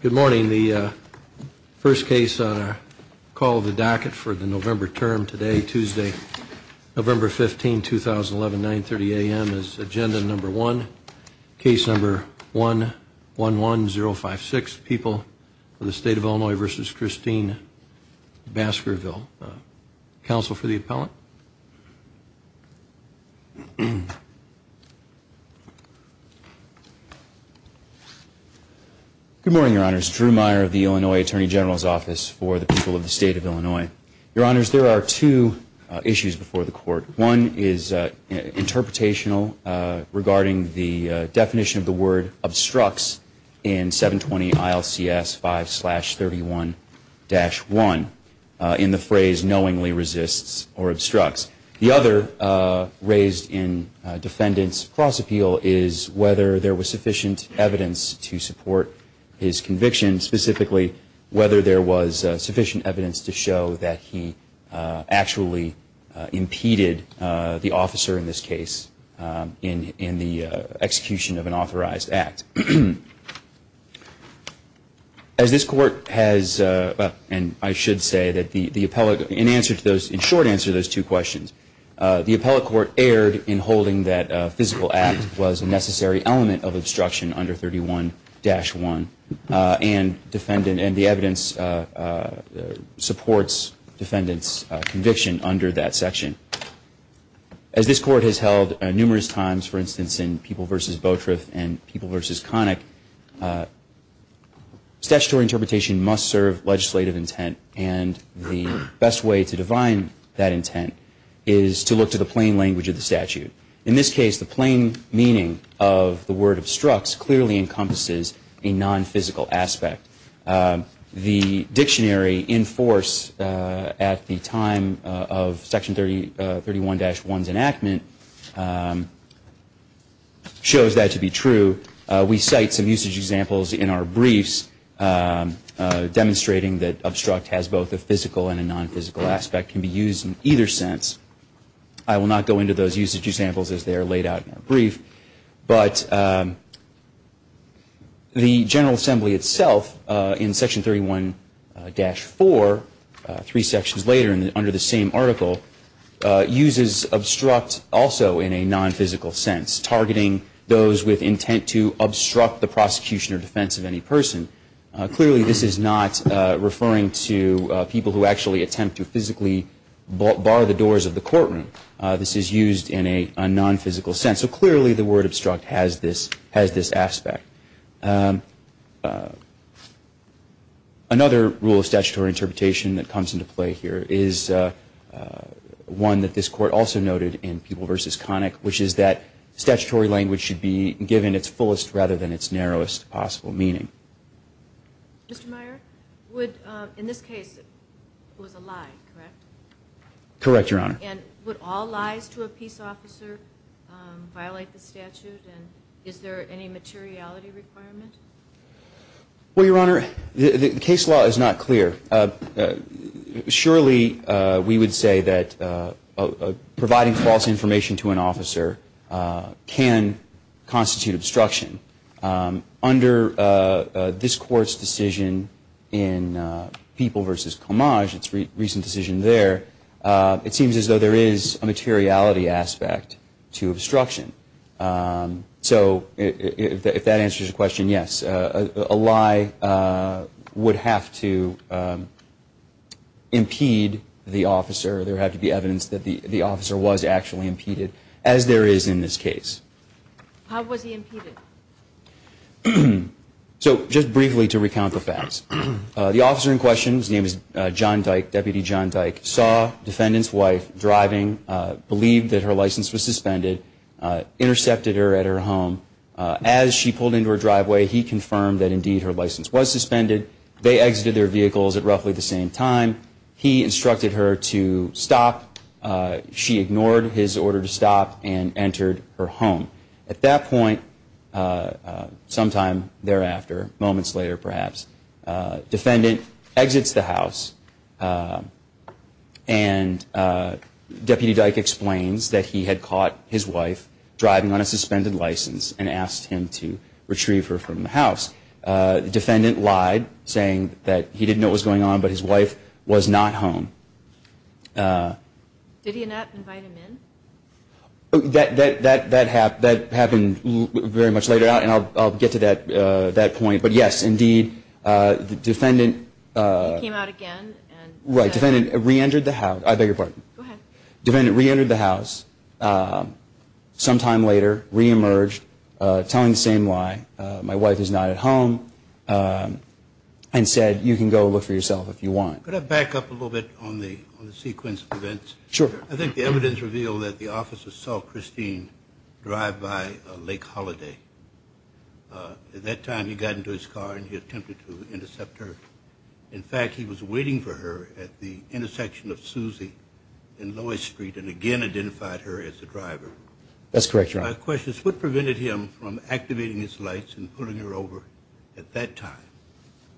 Good morning. The first case on a call of the docket for the November term today, Tuesday, November 15, 2011, 9.30 a.m. is agenda number one, case number 111056, People of the State of Illinois v. Christine Baskerville. Counsel for the appellant? Good morning, Your Honors. Drew Meyer of the Illinois Attorney General's Office for the People of the State of Illinois. Your Honors, there are two issues before the court. One is interpretational regarding the definition of the word obstructs in 720 ILCS 5-31-1 in the phrase knowingly resists or obstructs. The other raised in defendant's cross appeal is whether there was sufficient evidence to support his conviction, specifically whether there was sufficient evidence to show that he actually impeded the officer in this case in the execution of an authorized act. As this court has, and I should say that the appellate, in short answer to those two questions, the appellate court erred in holding that a physical act was a necessary element of obstruction under 31-1 and the evidence supports defendant's conviction under that section. As this court has held numerous times, for instance, in People v. Beautriff and People v. Connick, statutory interpretation must serve legislative intent and the best way to divine that intent is to look to the plain language of the statute. In this case, the plain meaning of the word obstructs clearly encompasses a non-physical aspect. The dictionary in force at the time of Section 31-1's enactment shows that to be true. We cite some usage examples in our briefs demonstrating that obstruct has both a physical and a non-physical aspect and can be used in either sense. I will not go into those usage examples as they are laid out in our brief, but the General Assembly itself in Section 31-4, three sections later under the same article, uses obstruct also in a non-physical sense, targeting those with intent to obstruct the prosecution or defense of any person. Clearly, this is not referring to people who actually attempt to physically bar the doors of the courtroom. This is used in a non-physical sense, so clearly the word obstruct has this aspect. Another rule of statutory interpretation that comes into play here is one that this Court also noted in People v. Connick, which is that statutory language should be given its fullest rather than its narrowest possible meaning. Mr. Meyer, would, in this case, it was a lie, correct? Correct, Your Honor. And would all lies to a peace officer violate the statute, and is there any materiality requirement? Well, Your Honor, the case law is not clear. Surely we would say that providing false information to an officer can constitute obstruction. Under this Court's decision in People v. Comage, its recent decision there, it seems as though there is a materiality aspect to obstruction. So if that answers your question, yes, a lie would have to impede the officer. There would have to be evidence that the officer was actually impeded, as there is in this case. How was he impeded? So just briefly to recount the facts. The officer in question, his name is John Dyke, Deputy John Dyke, saw the defendant's wife driving, believed that her license was suspended, intercepted her at her home. As she pulled into her driveway, he confirmed that indeed her license was suspended. They exited their vehicles at roughly the same time. He instructed her to stop. She ignored his order to stop and entered her home. At that point, sometime thereafter, moments later perhaps, the defendant exits the house, and Deputy Dyke explains that he had caught his wife driving on a suspended license and asked him to retrieve her from the house. The defendant lied, saying that he didn't know what was going on, but his wife was not home. Did he not invite him in? That happened very much later on, and I'll get to that point. But, yes, indeed, the defendant reentered the house sometime later, reemerged, telling the same lie, my wife is not at home, and said, you can go look for yourself if you want. Could I back up a little bit on the sequence of events? Sure. I think the evidence revealed that the officer saw Christine drive by Lake Holiday. At that time, he got into his car and he attempted to intercept her. In fact, he was waiting for her at the intersection of Susie and Lois Street and again identified her as the driver. That's correct, Your Honor. My question is, what prevented him from activating his lights and pulling her over at that time?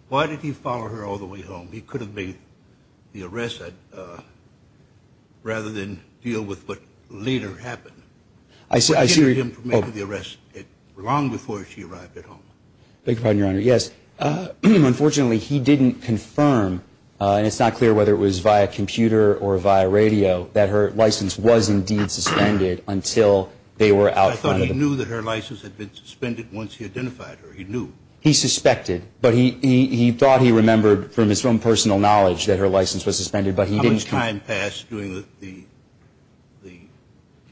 Why did he follow her all the way home? He could have made the arrest rather than deal with what later happened. What prevented him from making the arrest long before she arrived at home? I beg your pardon, Your Honor. Yes. Unfortunately, he didn't confirm, and it's not clear whether it was via computer or via radio, that her license was indeed suspended until they were out front of him. But I thought he knew that her license had been suspended once he identified her. He knew. He suspected. But he thought he remembered from his own personal knowledge that her license was suspended, but he didn't. How much time passed during the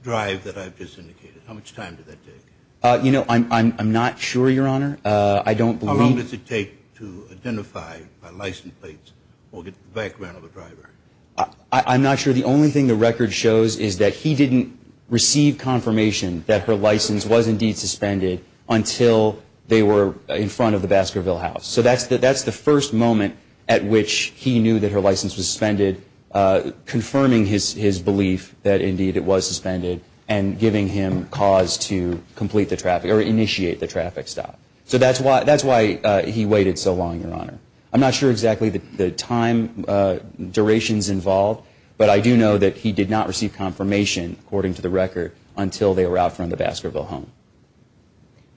drive that I've just indicated? How much time did that take? You know, I'm not sure, Your Honor. I don't believe. How long does it take to identify a license plate or get the background of a driver? I'm not sure. The only thing the record shows is that he didn't receive confirmation that her license was indeed suspended until they were in front of the Baskerville house. So that's the first moment at which he knew that her license was suspended, confirming his belief that indeed it was suspended and giving him cause to complete the traffic or initiate the traffic stop. I'm not sure exactly the time durations involved, but I do know that he did not receive confirmation, according to the record, until they were out front of the Baskerville home.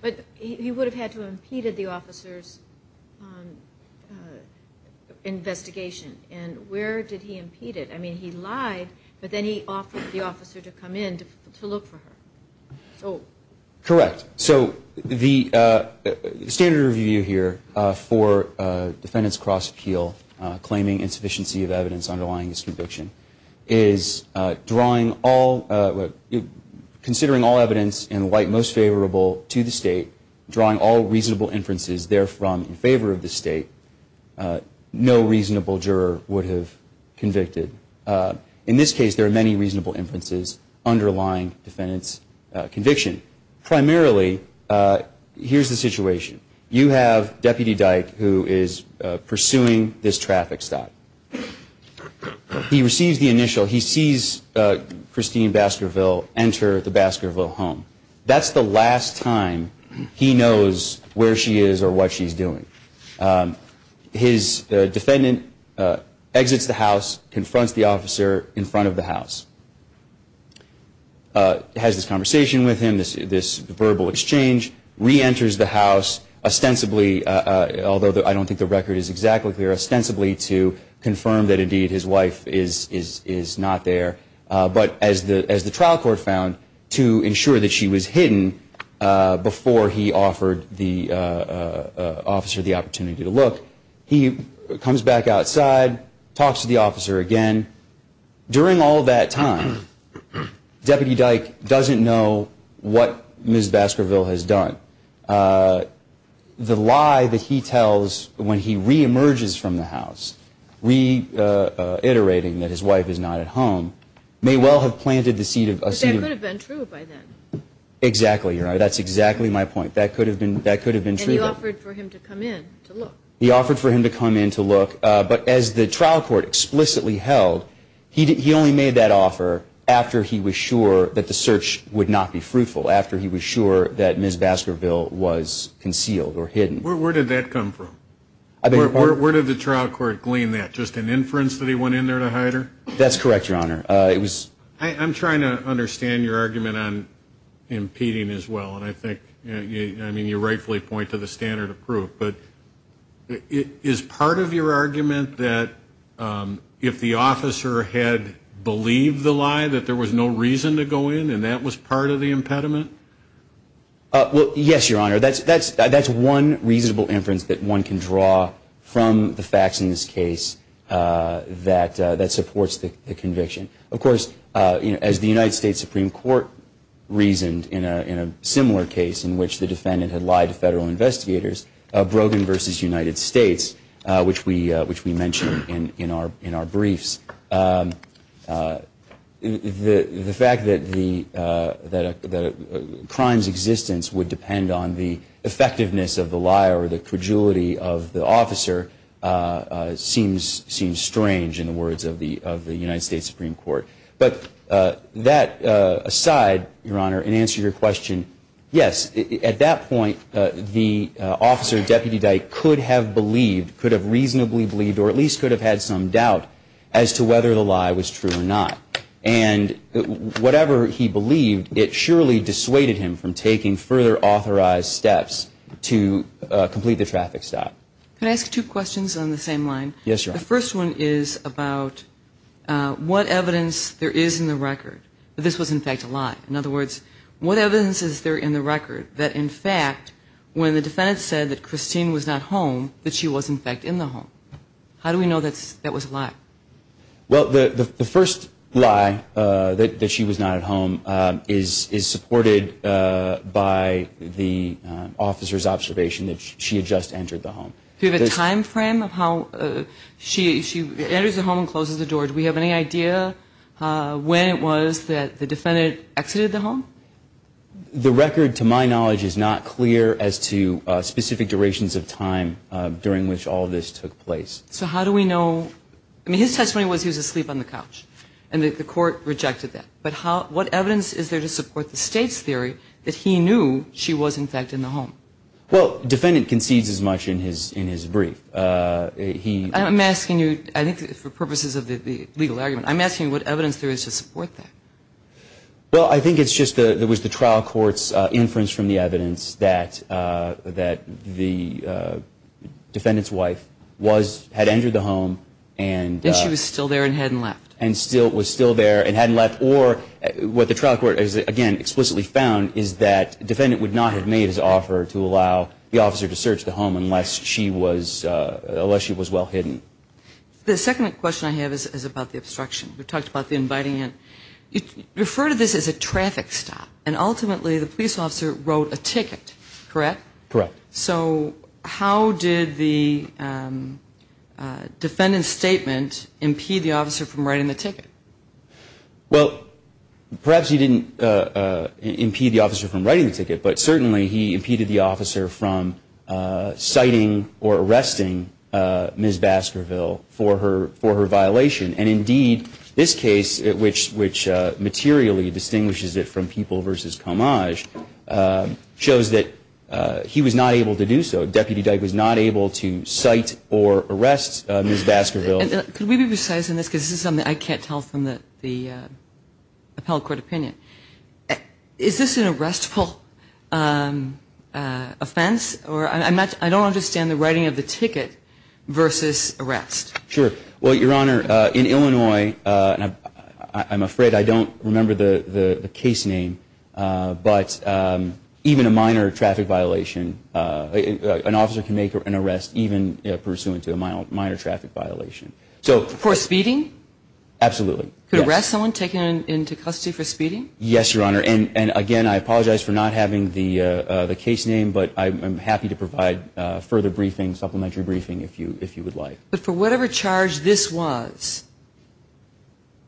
But he would have had to have impeded the officer's investigation. And where did he impede it? I mean, he lied, but then he offered the officer to come in to look for her. Correct. So the standard review here for defendant's cross appeal, claiming insufficiency of evidence underlying his conviction, is considering all evidence in light most favorable to the State, drawing all reasonable inferences therefrom in favor of the State, no reasonable juror would have convicted. In this case, there are many reasonable inferences underlying defendant's conviction. Primarily, here's the situation. You have Deputy Dyke, who is pursuing this traffic stop. He receives the initial. He sees Christine Baskerville enter the Baskerville home. That's the last time he knows where she is or what she's doing. His defendant exits the house, confronts the officer in front of the house, has this conversation with him, this verbal exchange, reenters the house ostensibly, although I don't think the record is exactly clear, ostensibly to confirm that indeed his wife is not there. But as the trial court found, to ensure that she was hidden before he offered the officer the opportunity to look, he comes back outside, talks to the officer again. During all that time, Deputy Dyke doesn't know what Ms. Baskerville has done. The lie that he tells when he reemerges from the house, reiterating that his wife is not at home, may well have planted the seed of a scene. But that could have been true by then. Exactly. That's exactly my point. That could have been true. And he offered for him to come in to look. He offered for him to come in to look. But as the trial court explicitly held, he only made that offer after he was sure that the search would not be fruitful, after he was sure that Ms. Baskerville was concealed or hidden. Where did that come from? Where did the trial court glean that? Just an inference that he went in there to hide her? That's correct, Your Honor. I'm trying to understand your argument on impeding as well. And I think you rightfully point to the standard of proof. But is part of your argument that if the officer had believed the lie that there was no reason to go in and that was part of the impediment? Well, yes, Your Honor. That's one reasonable inference that one can draw from the facts in this case that supports the conviction. Of course, as the United States Supreme Court reasoned in a similar case in which the defendant had lied to federal investigators, Brogan v. United States, which we mentioned in our briefs, the fact that a crime's existence would depend on the effectiveness of the liar or the credulity of the officer seems strange in the words of the United States Supreme Court. But that aside, Your Honor, in answer to your question, yes, at that point, the officer, Deputy Dyke, could have believed, could have reasonably believed, or at least could have had some doubt as to whether the lie was true or not. And whatever he believed, it surely dissuaded him from taking further authorized steps to complete the traffic stop. Can I ask two questions on the same line? Yes, Your Honor. The first one is about what evidence there is in the record that this was, in fact, a lie. In other words, what evidence is there in the record that, in fact, when the defendant said that Christine was not home, that she was, in fact, in the home? How do we know that that was a lie? Well, the first lie, that she was not at home, is supported by the officer's observation that she had just entered the home. Do you have a time frame of how she enters the home and closes the door? Do we have any idea when it was that the defendant exited the home? The record, to my knowledge, is not clear as to specific durations of time during which all of this took place. So how do we know? I mean, his testimony was he was asleep on the couch, and the court rejected that. But what evidence is there to support the State's theory that he knew she was, in fact, in the home? Well, the defendant concedes as much in his brief. I'm asking you, I think, for purposes of the legal argument, I'm asking you what evidence there is to support that. Well, I think it's just that it was the trial court's inference from the evidence that the defendant's wife had entered the home. And she was still there and hadn't left. And was still there and hadn't left. Or what the trial court has, again, explicitly found, is that the defendant would not have made his offer to allow the officer to search the home unless she was well hidden. The second question I have is about the obstruction. We talked about the inviting in. You refer to this as a traffic stop, and ultimately the police officer wrote a ticket, correct? Correct. So how did the defendant's statement impede the officer from writing the ticket? Well, perhaps he didn't impede the officer from writing the ticket, but certainly he impeded the officer from citing or arresting Ms. Baskerville for her violation. And, indeed, this case, which materially distinguishes it from People v. Commage, shows that he was not able to do so. Deputy Dyke was not able to cite or arrest Ms. Baskerville. Could we be precise in this? Because this is something I can't tell from the appellate court opinion. Is this an arrestful offense? Or I don't understand the writing of the ticket versus arrest. Sure. Well, Your Honor, in Illinois, I'm afraid I don't remember the case name, but even a minor traffic violation, an officer can make an arrest even pursuant to a minor traffic violation. So for speeding? Absolutely. Could arrest someone, take them into custody for speeding? Yes, Your Honor. And, again, I apologize for not having the case name, but I'm happy to provide further briefing, supplementary briefing, if you would like. But for whatever charge this was,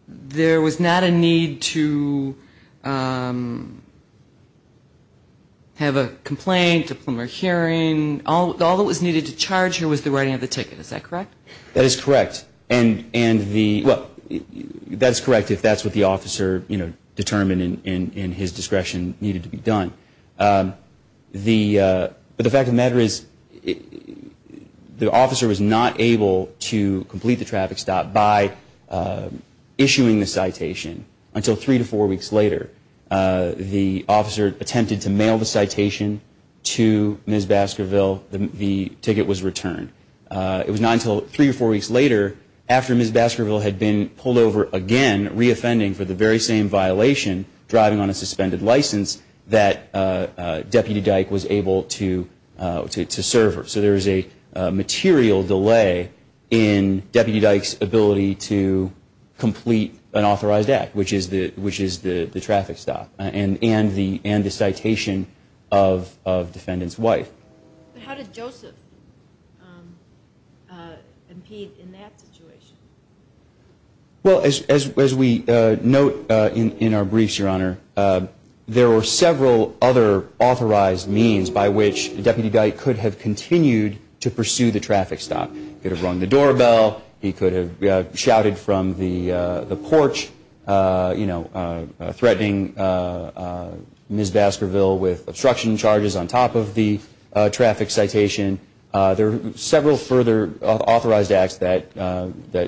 there was not a need to have a complaint, a plumber hearing. All that was needed to charge her was the writing of the ticket. Is that correct? That is correct. And the – well, that's correct if that's what the officer determined in his discretion needed to be done. The – but the fact of the matter is the officer was not able to complete the traffic stop by issuing the citation until three to four weeks later. The officer attempted to mail the citation to Ms. Baskerville. The ticket was returned. It was not until three or four weeks later, after Ms. Baskerville had been pulled over again, reoffending for the very same violation, driving on a suspended license, that Deputy Dyke was able to serve her. So there is a material delay in Deputy Dyke's ability to complete an authorized act, which is the traffic stop and the citation of defendant's wife. But how did Joseph impede in that situation? Well, as we note in our briefs, Your Honor, there were several other authorized means by which Deputy Dyke could have continued to pursue the traffic stop. He could have rung the doorbell. He could have shouted from the porch, you know, threatening Ms. Baskerville with obstruction charges on top of the traffic citation. There are several further authorized acts that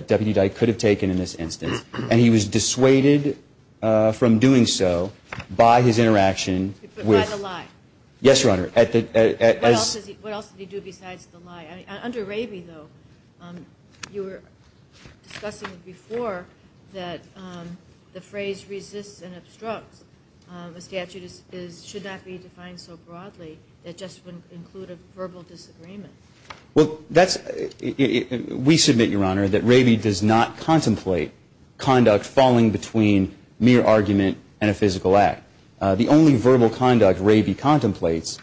Deputy Dyke could have taken in this instance. And he was dissuaded from doing so by his interaction with the lie. Yes, Your Honor. What else did he do besides the lie? Under Raby, though, you were discussing before that the phrase resists and obstructs a statute should not be defined so broadly that it just wouldn't include a verbal disagreement. Well, we submit, Your Honor, that Raby does not contemplate conduct falling between mere argument and a physical act. The only verbal conduct Raby contemplates,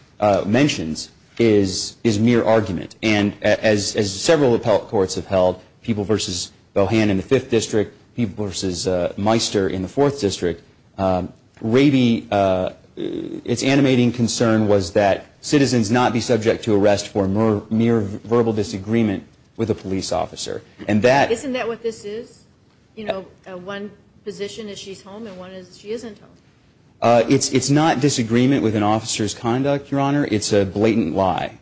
mentions, is mere argument. And as several appellate courts have held, people versus Bohan in the Fifth District, people versus Meister in the Fourth District, Raby's animating concern was that citizens not be subject to arrest for mere verbal disagreement with a police officer. Isn't that what this is? You know, one position is she's home and one is she isn't home. It's not disagreement with an officer's conduct, Your Honor. It's a blatant lie.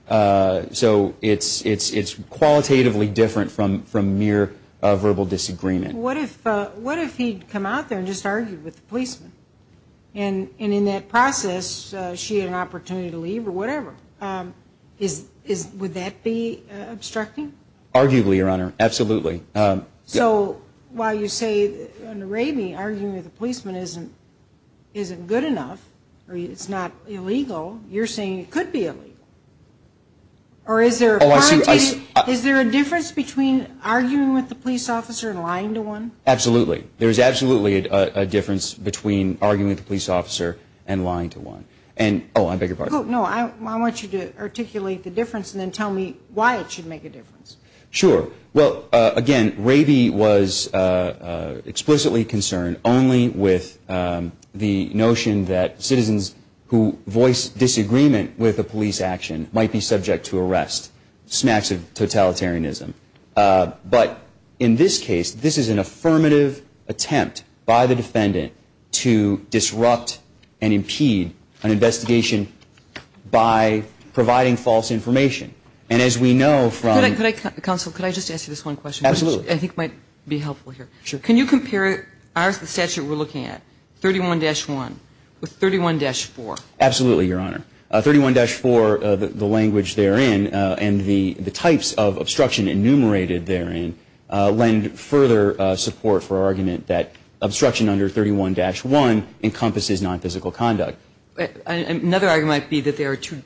So it's qualitatively different from mere verbal disagreement. What if he'd come out there and just argued with the policeman? And in that process, she had an opportunity to leave or whatever. Would that be obstructing? Arguably, Your Honor, absolutely. So while you say, under Raby, arguing with a policeman isn't good enough or it's not illegal, you're saying it could be illegal? Or is there a difference between arguing with a police officer and lying to one? Absolutely. There is absolutely a difference between arguing with a police officer and lying to one. Oh, I beg your pardon. No, I want you to articulate the difference and then tell me why it should make a difference. Sure. Well, again, Raby was explicitly concerned only with the notion that citizens who voice disagreement with a police action might be subject to arrest, smacks of totalitarianism. But in this case, this is an affirmative attempt by the defendant to disrupt and impede an investigation by providing false information. And as we know from Counsel, could I just ask you this one question? Absolutely. Which I think might be helpful here. Sure. Can you compare the statute we're looking at, 31-1, with 31-4? Absolutely, Your Honor. 31-4, the language therein and the types of obstruction enumerated therein lend further support for our argument that obstruction under 31-1 encompasses nonphysical conduct. Another argument might be that there are two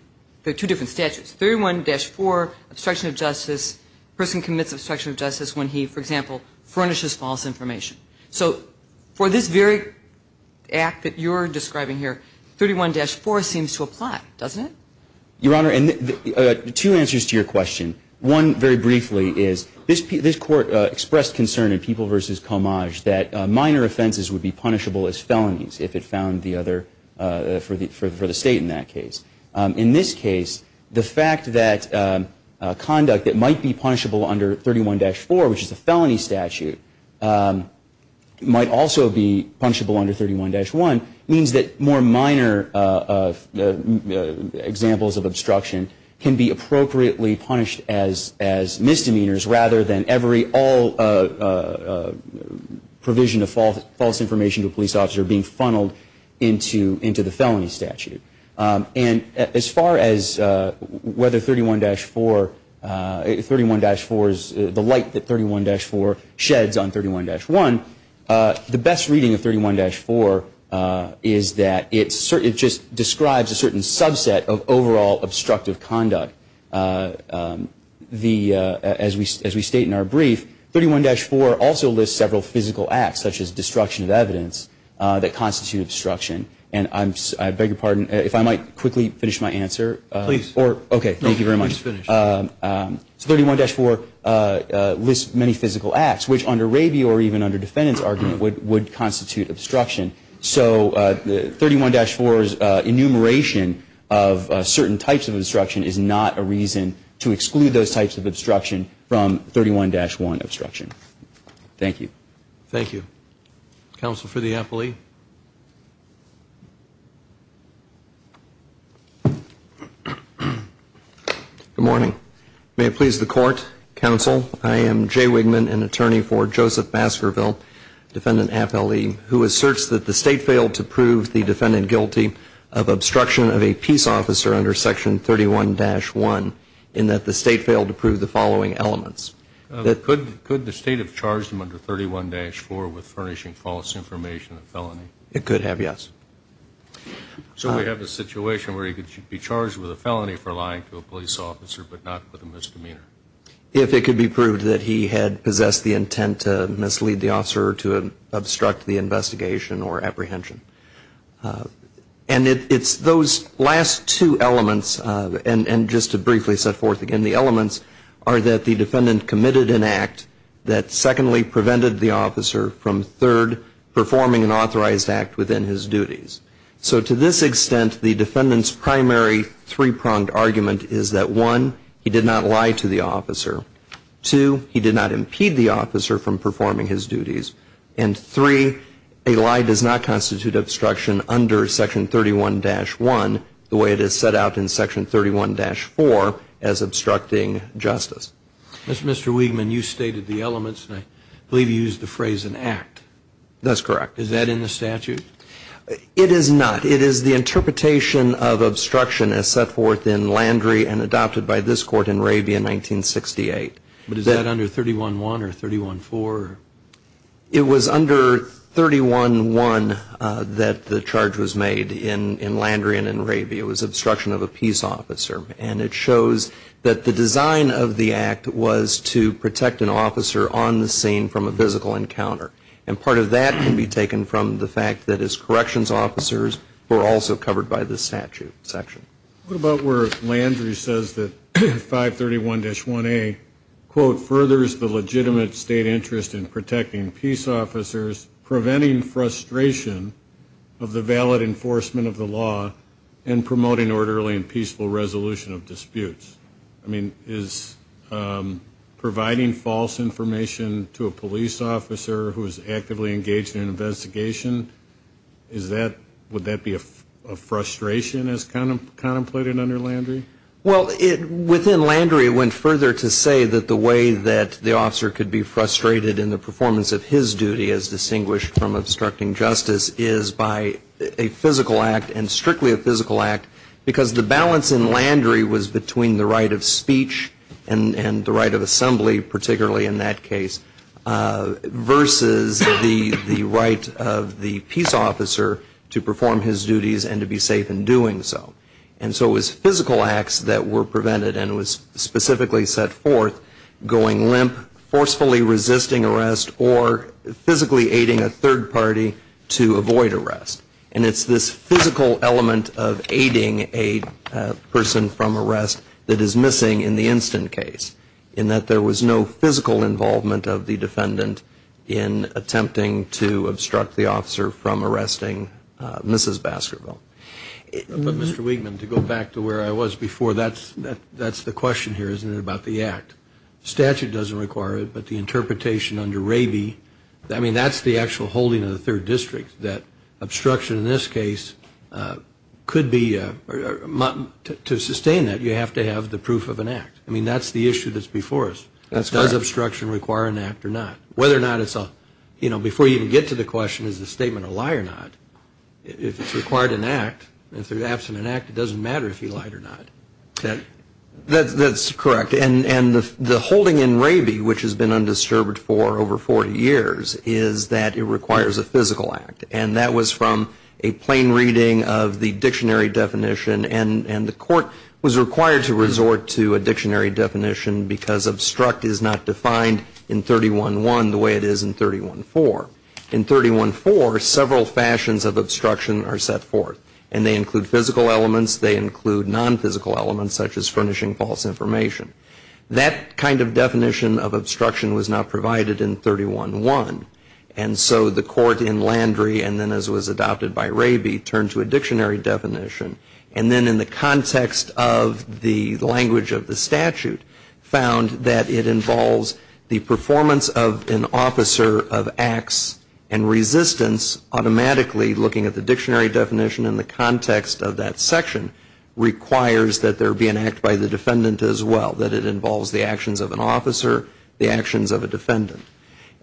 different statutes. 31-4, obstruction of justice, a person commits obstruction of justice when he, for example, furnishes false information. So for this very act that you're describing here, 31-4 seems to apply, doesn't it? Your Honor, two answers to your question. One, very briefly, is this Court expressed concern in People v. Comage that minor offenses would be punishable as felonies if it found the other for the State in that case. In this case, the fact that conduct that might be punishable under 31-4, which is a felony statute, might also be punishable under 31-1 means that more minor examples of obstruction can be appropriately punished as misdemeanors rather than every provision of false information to a police officer being funneled into the felony statute. And as far as whether 31-4, 31-4 is the light that 31-4 sheds on 31-1, the best reading of 31-4 is that it just describes a certain subset of overall obstructive conduct. As we state in our brief, 31-4 also lists several physical acts, such as destruction of evidence, that constitute obstruction. And I beg your pardon, if I might quickly finish my answer. Please. Okay, thank you very much. Please finish. So 31-4 lists many physical acts, which under rabia or even under defendant's argument would constitute obstruction. So 31-4's enumeration of certain types of obstruction is not a reason to exclude those types of obstruction from 31-1 obstruction. Thank you. Thank you. Counsel for the appellee. Good morning. May it please the Court, Counsel. I am Jay Wigman, an attorney for Joseph Maskerville, defendant appellee, who asserts that the State failed to prove the defendant guilty of obstruction of a peace officer under Section 31-1, in that the State failed to prove the following elements. Could the State have charged him under 31-4 with furnishing false information in a felony? It could have, yes. So we have a situation where he could be charged with a felony for lying to a police officer but not with a misdemeanor? If it could be proved that he had possessed the intent to mislead the officer or to obstruct the investigation or apprehension. And it's those last two elements, and just to briefly set forth again, the elements are that the defendant committed an act that, secondly, prevented the officer from, third, performing an authorized act within his duties. So to this extent, the defendant's primary three-pronged argument is that, one, he did not lie to the officer. Two, he did not impede the officer from performing his duties. And three, a lie does not constitute obstruction under Section 31-1 the way it is set out in Section 31-4 as obstructing justice. Mr. Wigman, you stated the elements, and I believe you used the phrase an act. That's correct. Is that in the statute? It is not. It is the interpretation of obstruction as set forth in Landry and adopted by this Court in Raby in 1968. But is that under 31-1 or 31-4? It was under 31-1 that the charge was made in Landry and in Raby. It was obstruction of a peace officer. And it shows that the design of the act was to protect an officer on the scene from a physical encounter. And part of that can be taken from the fact that his corrections officers were also covered by the statute section. What about where Landry says that 531-1A, quote, furthers the legitimate state interest in protecting peace officers, preventing frustration of the valid enforcement of the law, I mean, is providing false information to a police officer who is actively engaged in an investigation, would that be a frustration as contemplated under Landry? Well, within Landry it went further to say that the way that the officer could be frustrated in the performance of his duty as distinguished from obstructing justice is by a physical act and strictly a physical act because the balance in Landry was between the right of speech and the right of assembly, particularly in that case, versus the right of the peace officer to perform his duties and to be safe in doing so. And so it was physical acts that were prevented and it was specifically set forth going limp, forcefully resisting arrest, or physically aiding a third party to avoid arrest. And it's this physical element of aiding a person from arrest that is missing in the instant case, in that there was no physical involvement of the defendant in attempting to obstruct the officer from arresting Mrs. Baskerville. But Mr. Wigman, to go back to where I was before, that's the question here, isn't it, about the act. The statute doesn't require it, but the interpretation under Raby, I mean, that's the actual holding of the third district, that obstruction in this case could be, to sustain that, you have to have the proof of an act. I mean, that's the issue that's before us. Does obstruction require an act or not? Whether or not it's a, you know, before you even get to the question, is the statement a lie or not, if it's required an act, if there's absent an act, it doesn't matter if he lied or not. That's correct. And the holding in Raby, which has been undisturbed for over 40 years, is that it requires a physical act. And that was from a plain reading of the dictionary definition, and the court was required to resort to a dictionary definition because obstruct is not defined in 311 the way it is in 314. In 314, several fashions of obstruction are set forth, and they include physical elements, they include nonphysical elements, such as furnishing false information. That kind of definition of obstruction was not provided in 311. And so the court in Landry, and then as was adopted by Raby, turned to a dictionary definition, and then in the context of the language of the statute, found that it involves the performance of an officer of acts and resistance, automatically looking at the dictionary definition in the context of that section, requires that there be an act by the defendant as well, that it involves the actions of an officer, the actions of a defendant.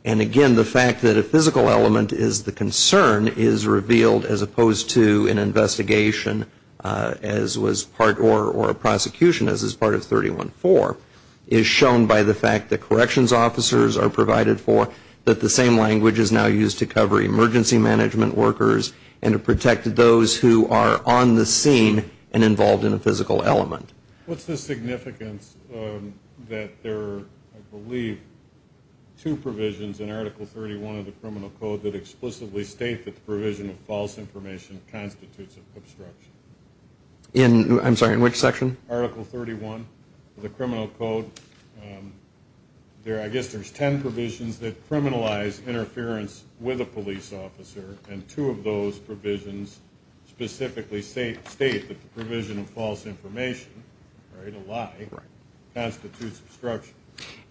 And again, the fact that a physical element is the concern is revealed as opposed to an investigation as was part, or a prosecution as was part of 314, is shown by the fact that corrections officers are provided for, that the same language is now used to cover emergency management workers and to protect those who are on the scene and involved in a physical element. What's the significance that there are, I believe, two provisions in Article 31 of the Criminal Code that explicitly state that the provision of false information constitutes obstruction? I'm sorry, in which section? Article 31 of the Criminal Code. I guess there's ten provisions that criminalize interference with a police officer, and two of those provisions specifically state that the provision of false information, right, a lie, constitutes obstruction.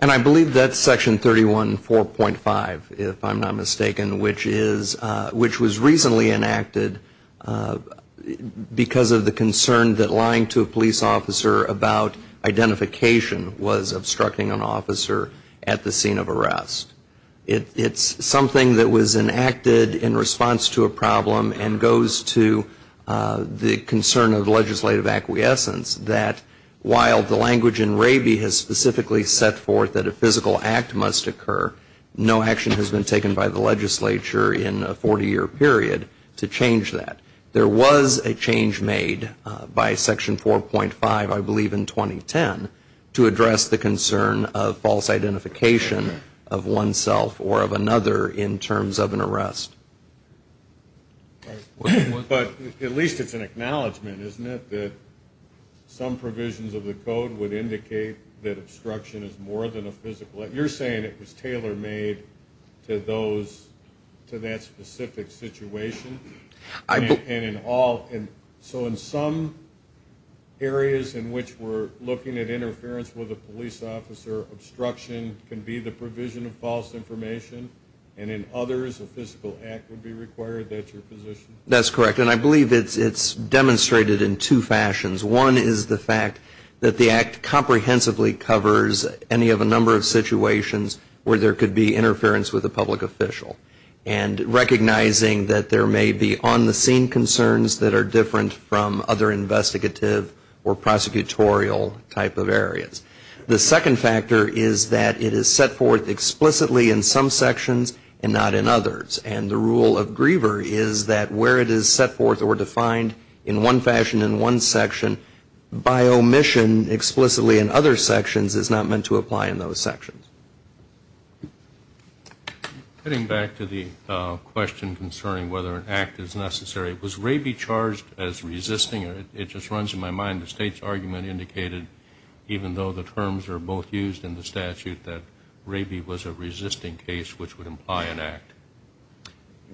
And I believe that's Section 31.4.5, if I'm not mistaken, which was recently enacted because of the concern that lying to a police officer about identification was obstructing an officer at the scene of arrest. It's something that was enacted in response to a problem and goes to the concern of legislative acquiescence that while the language in Raby has specifically set forth that a physical act must occur, no action has been taken by the legislature in a 40-year period to change that. There was a change made by Section 4.5, I believe in 2010, to address the concern of false identification of oneself or of another in terms of an arrest. But at least it's an acknowledgment, isn't it, that some provisions of the code would indicate that obstruction is more than a physical act? So you're saying it was tailor-made to those, to that specific situation? And in all, so in some areas in which we're looking at interference with a police officer, obstruction can be the provision of false information, and in others a physical act would be required? That's your position? That's correct. And I believe it's demonstrated in two fashions. One is the fact that the Act comprehensively covers any of a number of situations where there could be interference with a public official, and recognizing that there may be on-the-scene concerns that are different from other investigative or prosecutorial type of areas. The second factor is that it is set forth explicitly in some sections and not in others, and the rule of Griever is that where it is set forth or defined in one fashion in one section, by omission explicitly in other sections is not meant to apply in those sections. Getting back to the question concerning whether an act is necessary, was Raby charged as resisting? It just runs in my mind the State's argument indicated, even though the terms are both used in the statute, that Raby was a resisting case, which would imply an act.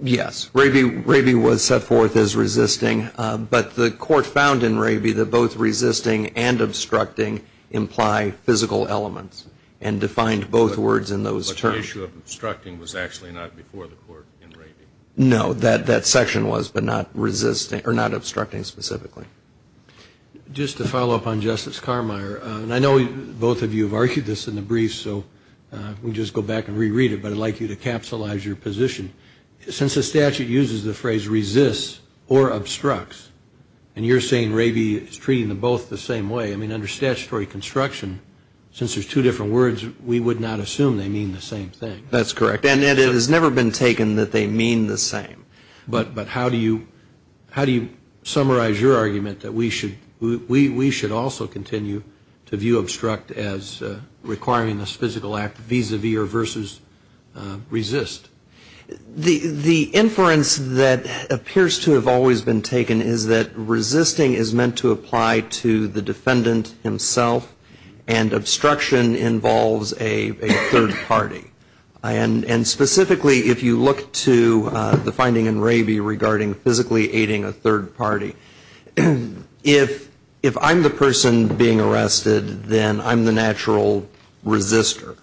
Yes. Raby was set forth as resisting, but the Court found in Raby that both resisting and obstructing imply physical elements and defined both words in those terms. But the issue of obstructing was actually not before the Court in Raby? No. That section was, but not obstructing specifically. Just to follow up on Justice Carmeier, and I know both of you have argued this in the brief, so we can just go back and reread it, but I'd like you to capsulize your position. Since the statute uses the phrase resists or obstructs, and you're saying Raby is treating them both the same way, I mean, under statutory construction, since there's two different words, we would not assume they mean the same thing. That's correct. And it has never been taken that they mean the same. But how do you summarize your argument that we should also continue to view obstruct as requiring this physical act vis-a-vis or versus resist? The inference that appears to have always been taken is that resisting is meant to apply to the defendant himself, and obstruction involves a third party. And specifically, if you look to the finding in Raby regarding physically aiding a third party, if I'm the person being arrested, then I'm the natural resister.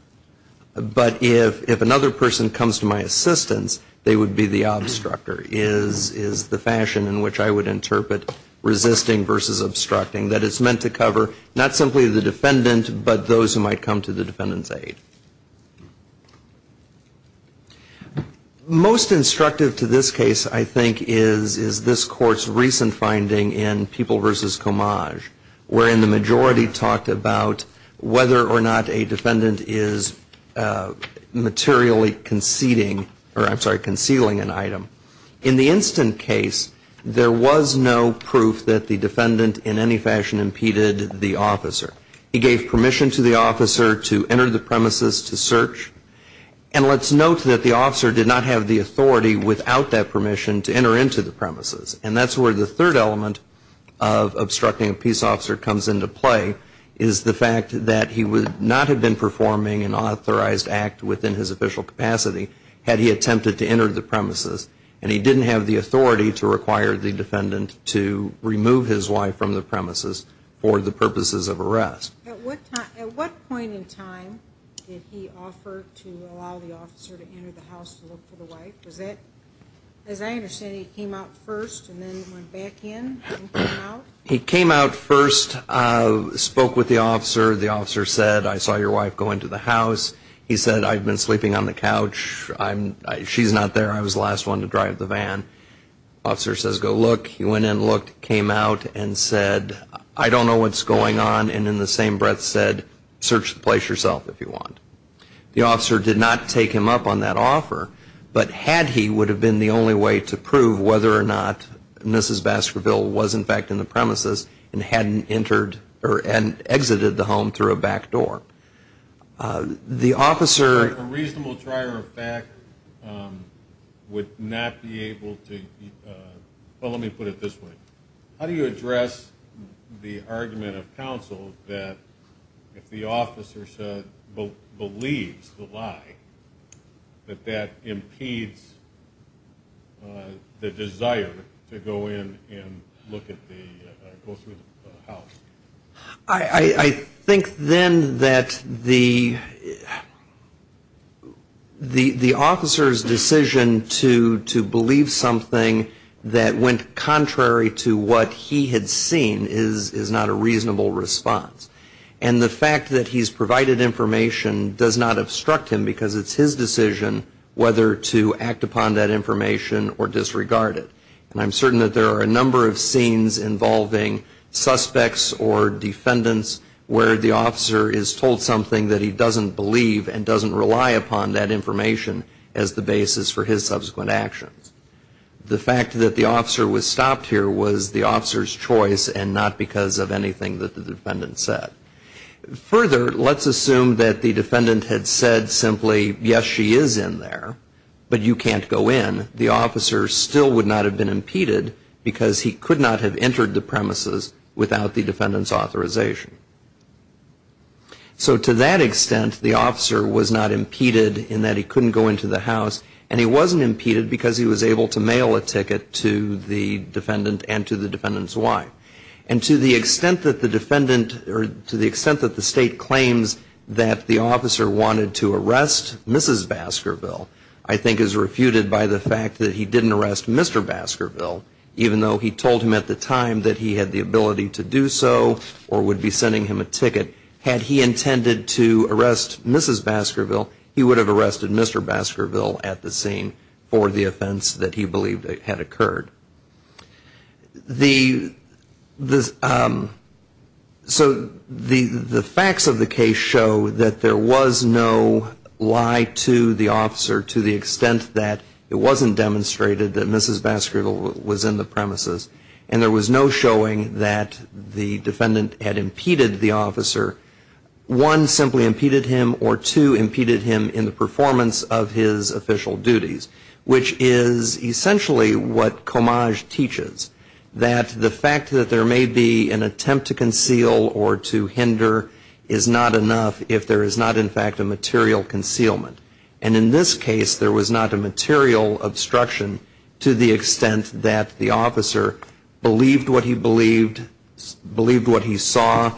But if another person comes to my assistance, they would be the obstructer, is the fashion in which I would interpret resisting versus obstructing, that it's meant to cover not simply the defendant, but those who might come to the defendant's aid. Most instructive to this case, I think, is this Court's recent finding in People v. Comage, wherein the majority talked about whether or not a defendant is materially concealing an item. In the instant case, there was no proof that the defendant in any fashion impeded the officer. He gave permission to the officer to enter the premises to search. And let's note that the officer did not have the authority without that permission to enter into the premises. And that's where the third element of obstructing a peace officer comes into play, is the fact that he would not have been performing an authorized act within his official capacity had he attempted to enter the premises. And he didn't have the authority to require the defendant to remove his wife from the premises for the purposes of arrest. At what point in time did he offer to allow the officer to enter the house to look for the wife? As I understand, he came out first and then went back in and came out? He came out first, spoke with the officer. The officer said, I saw your wife go into the house. He said, I've been sleeping on the couch. She's not there. I was the last one to drive the van. The officer says, go look. He went in, looked, came out, and said, I don't know what's going on, and in the same breath said, search the place yourself if you want. The officer did not take him up on that offer, but had he would have been the only way to prove whether or not Mrs. Baskerville was in fact in the premises and hadn't entered or hadn't exited the home through a back door. The officer. A reasonable trier of fact would not be able to. Well, let me put it this way. How do you address the argument of counsel that if the officer believes the lie, that that impedes the desire to go in and look at the, go through the house? I think then that the officer's decision to believe something that went contrary to what he had seen is not a reasonable response. And the fact that he's provided information does not obstruct him because it's his decision whether to act upon that information or disregard it. And I'm certain that there are a number of scenes involving suspects or defendants where the officer is told something that he doesn't believe and doesn't rely upon that information as the basis for his subsequent actions. The fact that the officer was stopped here was the officer's choice and not because of anything that the defendant said. Further, let's assume that the defendant had said simply, yes, she is in there, but you can't go in. The officer still would not have been impeded because he could not have entered the premises without the defendant's authorization. So to that extent, the officer was not impeded in that he couldn't go into the house and he wasn't impeded because he was able to mail a ticket to the defendant and to the defendant's wife. And to the extent that the defendant, or to the extent that the State claims that the officer wanted to arrest Mrs. Baskerville, I think is refuted by the fact that he didn't arrest Mr. Baskerville, even though he told him at the time that he had the ability to do so or would be sending him a ticket. Had he intended to arrest Mrs. Baskerville, he would have arrested Mr. Baskerville at the scene for the offense that he believed had occurred. So the facts of the case show that there was no lie to the officer to the extent that it wasn't demonstrated that Mrs. Baskerville was in the premises. And there was no showing that the defendant had impeded the officer. One, simply impeded him, or two, impeded him in the performance of his official duties, which is essentially what Comage teaches, that the fact that there may be an attempt to conceal or to hinder is not enough if there is not, in fact, a material concealment. And in this case, there was not a material obstruction to the extent that the officer believed what he believed, believed what he saw,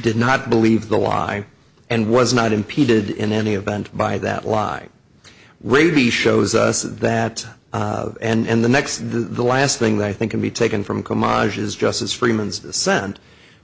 did not believe the lie, and was not impeded in any event by that lie. Raby shows us that, and the last thing that I think can be taken from Comage is Justice Freeman's dissent,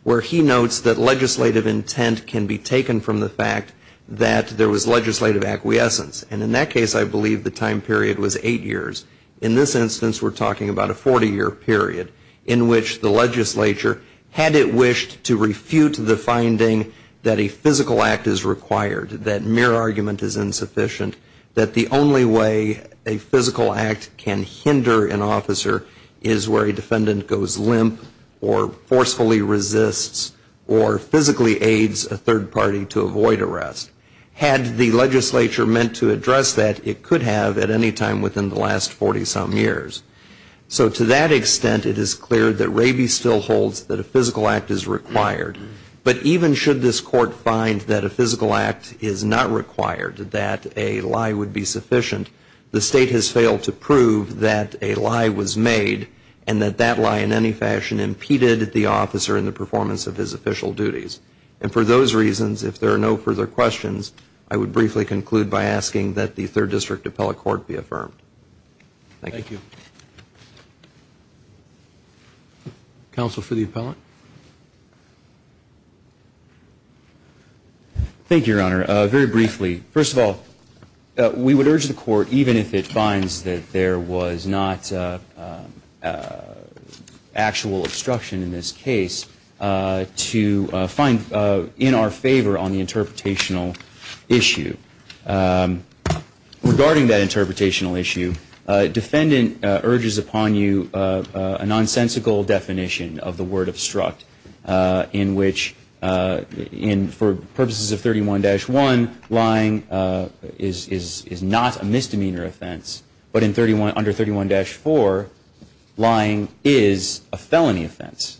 where he notes that legislative intent can be taken from the fact that there was legislative acquiescence. And in that case, I believe the time period was eight years. In this instance, we're talking about a 40-year period in which the legislature, had it wished to refute the finding that a physical act is required, that mere argument is insufficient, that the only way a physical act can hinder an officer is where a defendant goes limp or forcefully resists or physically aids a third party to avoid arrest. Had the legislature meant to address that, it could have at any time within the last 40-some years. So to that extent, it is clear that Raby still holds that a physical act is required. But even should this court find that a physical act is not required, that a lie would be sufficient, the state has failed to prove that a lie was made and that that lie in any fashion impeded the officer in the performance of his official duties. And for those reasons, if there are no further questions, I would briefly conclude by asking that the Third District Appellate Court be affirmed. Thank you. Thank you, Your Honor. Very briefly, first of all, we would urge the Court, even if it finds that there was not actual obstruction in this case, to find in our favor on the interpretational issue. Regarding that interpretational issue, a defendant urges upon you a nonsensical definition of the word obstruct, in which for purposes of 31-1, lying is not a misdemeanor offense, but under 31-4, lying is a felony offense.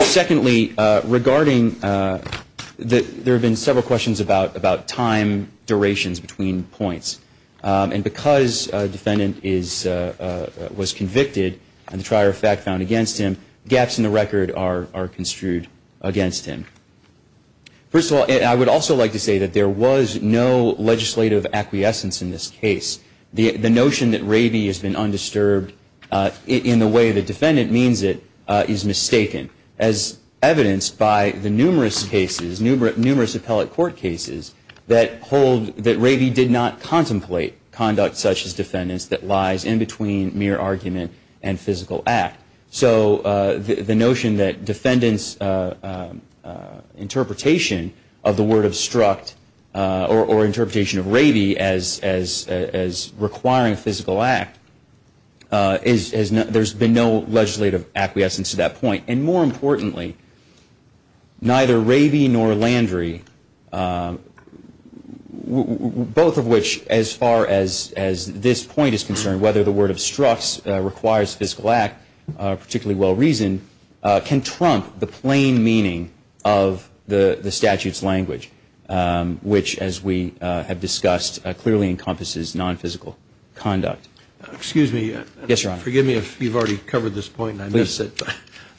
Secondly, regarding that there have been several questions about time durations between points. And because a defendant was convicted and the trier of fact found against him, gaps in the record are construed against him. First of all, I would also like to say that there was no legislative acquiescence in this case. The notion that ravy has been undisturbed in the way the defendant means it is mistaken, as evidenced by the numerous cases, numerous appellate court cases, that hold that ravy did not contemplate conduct such as defendants that lies in between mere argument and physical act. So the notion that defendants' interpretation of the word obstruct or interpretation of ravy as requiring a physical act, there's been no legislative acquiescence to that point. And more importantly, neither ravy nor landry, both of which, as far as this point is concerned, whether the word obstructs, requires physical act, particularly well-reasoned, can trump the plain meaning of the statute's language, which, as we have discussed, clearly encompasses non-physical conduct. Excuse me. Yes, Your Honor. Forgive me if you've already covered this point, and I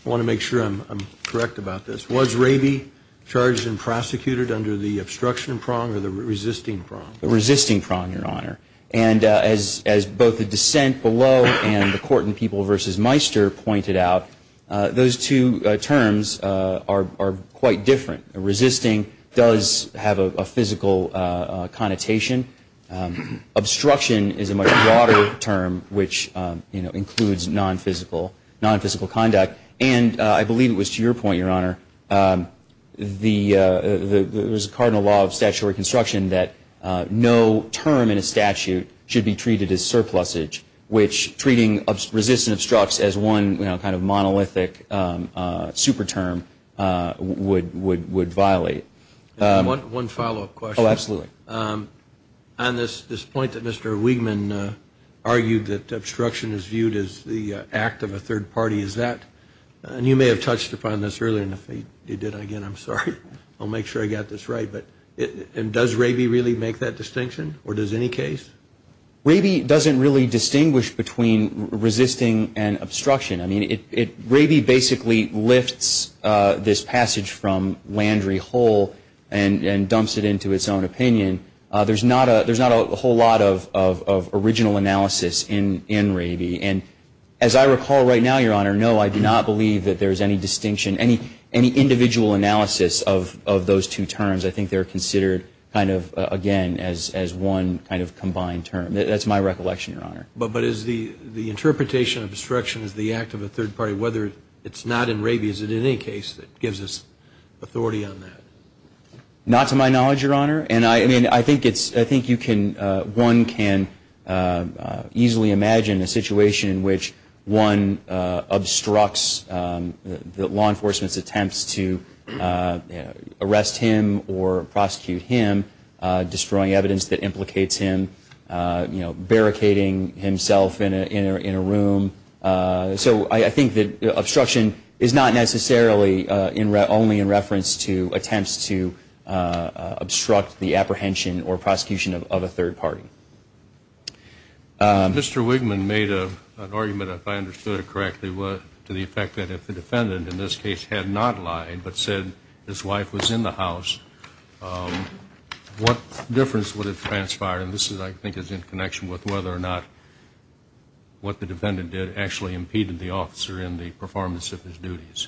want to make sure I'm correct about this. Was ravy charged and prosecuted under the obstruction prong or the resisting prong? The resisting prong, Your Honor. And as both the dissent below and the court in People v. Meister pointed out, those two terms are quite different. Resisting does have a physical connotation. Obstruction is a much broader term, which includes non-physical conduct. And I believe it was to your point, Your Honor, there's a cardinal law of statutory construction that no term in a statute should be treated as surplusage, which treating resisting obstructs as one kind of monolithic super term would violate. One follow-up question. Oh, absolutely. On this point that Mr. Wiegman argued that obstruction is viewed as the act of a third party, is that, and you may have touched upon this earlier, and if you did, again, I'm sorry. I'll make sure I got this right. And does ravy really make that distinction, or does any case? Ravy doesn't really distinguish between resisting and obstruction. I mean, ravy basically lifts this passage from Landry whole and dumps it into its own opinion. There's not a whole lot of original analysis in ravy. And as I recall right now, Your Honor, no, I do not believe that there's any distinction, any individual analysis of those two terms. I think they're considered kind of, again, as one kind of combined term. That's my recollection, Your Honor. But is the interpretation of obstruction as the act of a third party, whether it's not in ravy, is it in any case that gives us authority on that? Not to my knowledge, Your Honor. And I mean, I think you can, one can easily imagine a situation in which one obstructs the law enforcement's attempts to arrest him or prosecute him, destroying evidence that implicates him, you know, barricading himself in a room. So I think that obstruction is not necessarily only in reference to attempts to obstruct the apprehension or prosecution of a third party. Mr. Wigman made an argument, if I understood it correctly, to the effect that if the defendant in this case had not lied but said his wife was in the house, what difference would it transpire? And this, I think, is in connection with whether or not what the defendant did actually impeded the officer in the performance of his duties.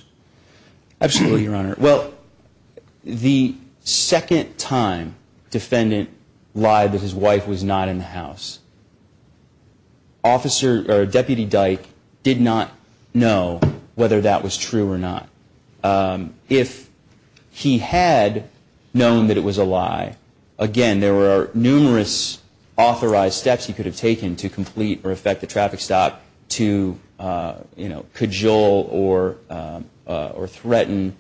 Absolutely, Your Honor. Well, the second time defendant lied that his wife was not in the house, Deputy Dyke did not know whether that was true or not. If he had known that it was a lie, again, there were numerous authorized steps he could have taken to complete or effect a traffic stop to, you know, cajole or threaten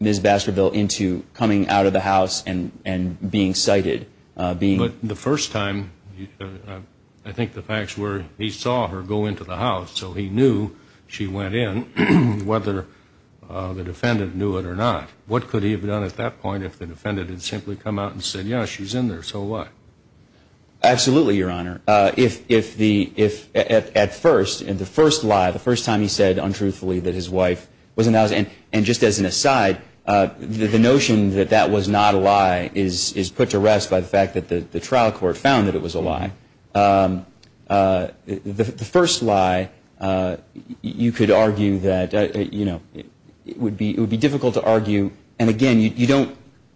Ms. Baskerville into coming out of the house and being cited. But the first time, I think the facts were he saw her go into the house, so he knew she went in, whether the defendant knew it or not. What could he have done at that point if the defendant had simply come out and said, yes, she's in there, so what? Absolutely, Your Honor. If at first, in the first lie, the first time he said untruthfully that his wife was in the house, and just as an aside, the notion that that was not a lie is put to rest by the fact that the trial court found that it was a lie. The first lie, you could argue that, you know, it would be difficult to argue, and again, you don't,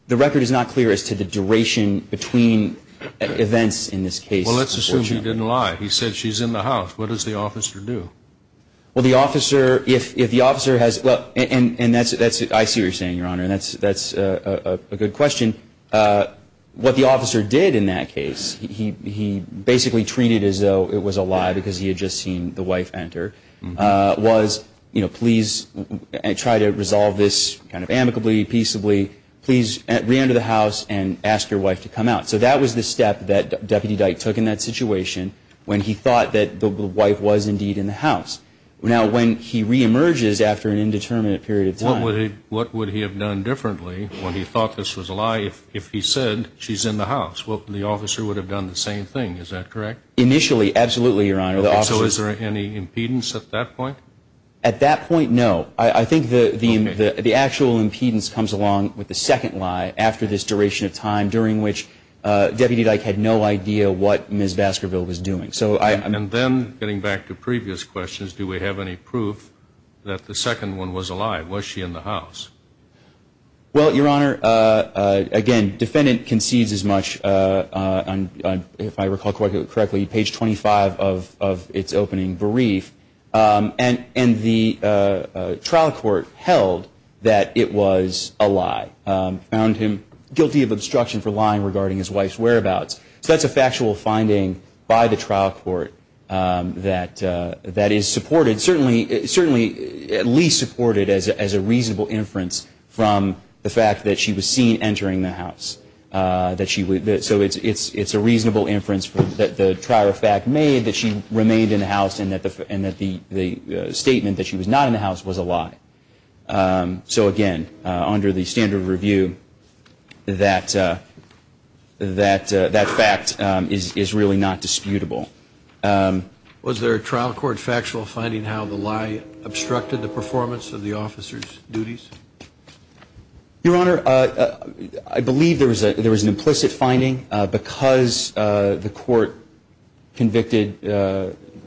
the record is not clear as to the duration between events in this case. Well, let's assume he didn't lie. He said she's in the house. What does the officer do? Well, the officer, if the officer has, and that's, I see what you're saying, Your Honor, and that's a good question. What the officer did in that case, he basically treated it as though it was a lie because he had just seen the wife enter, was, you know, please try to resolve this kind of amicably, peaceably. Please reenter the house and ask your wife to come out. So that was the step that Deputy Dyke took in that situation when he thought that the wife was indeed in the house. Now, when he reemerges after an indeterminate period of time. What would he have done differently when he thought this was a lie if he said she's in the house? Well, the officer would have done the same thing. Is that correct? Initially, absolutely, Your Honor. So is there any impedance at that point? At that point, no. I think the actual impedance comes along with the second lie after this duration of time, during which Deputy Dyke had no idea what Ms. Vaskerville was doing. And then getting back to previous questions, do we have any proof that the second one was a lie? Was she in the house? Well, Your Honor, again, defendant concedes as much on, if I recall correctly, page 25 of its opening brief. And the trial court held that it was a lie. Found him guilty of obstruction for lying regarding his wife's whereabouts. So that's a factual finding by the trial court that is supported, certainly at least supported as a reasonable inference from the fact that she was seen entering the house. So it's a reasonable inference that the trier of fact made that she remained in the house and that the statement that she was not in the house was a lie. So, again, under the standard of review, that fact is really not disputable. Was there a trial court factual finding how the lie obstructed the performance of the officer's duties? Your Honor, I believe there was an implicit finding because the court convicted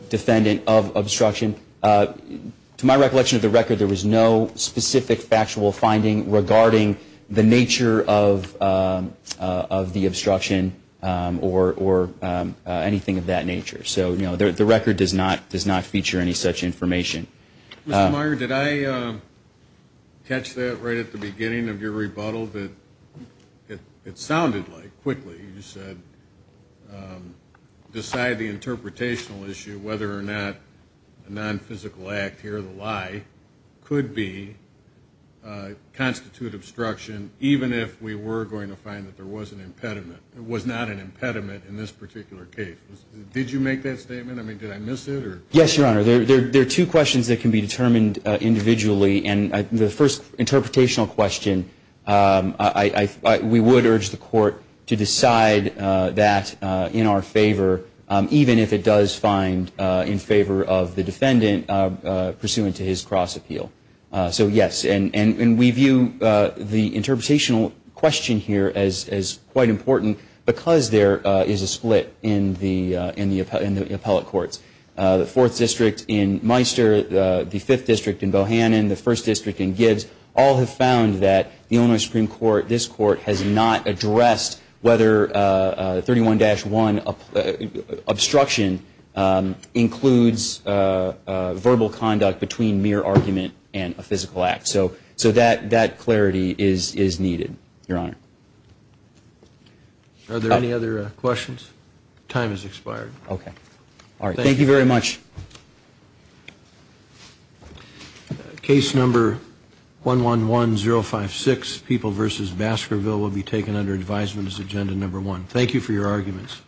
defendant of obstruction. To my recollection of the record, there was no specific factual finding regarding the nature of the obstruction or anything of that nature. So, you know, the record does not feature any such information. Mr. Meyer, did I catch that right at the beginning of your rebuttal that it sounded like, quickly, you said decide the interpretational issue whether or not a nonphysical act, hear the lie, could constitute obstruction even if we were going to find that there was not an impediment in this particular case? Did you make that statement? I mean, did I miss it? Yes, Your Honor. There are two questions that can be determined individually. And the first interpretational question, we would urge the court to decide that in our favor, even if it does find in favor of the defendant pursuant to his cross appeal. So, yes. And we view the interpretational question here as quite important because there is a split in the appellate courts. The Fourth District in Meister, the Fifth District in Bohannon, the First District in Gibbs, all have found that the Illinois Supreme Court, this court, has not addressed whether 31-1 obstruction includes verbal conduct between mere argument and a physical act. So that clarity is needed, Your Honor. Are there any other questions? Time has expired. Okay. All right. Thank you very much. Case number 111056, People v. Baskerville, will be taken under advisement as agenda number one. Thank you for your arguments.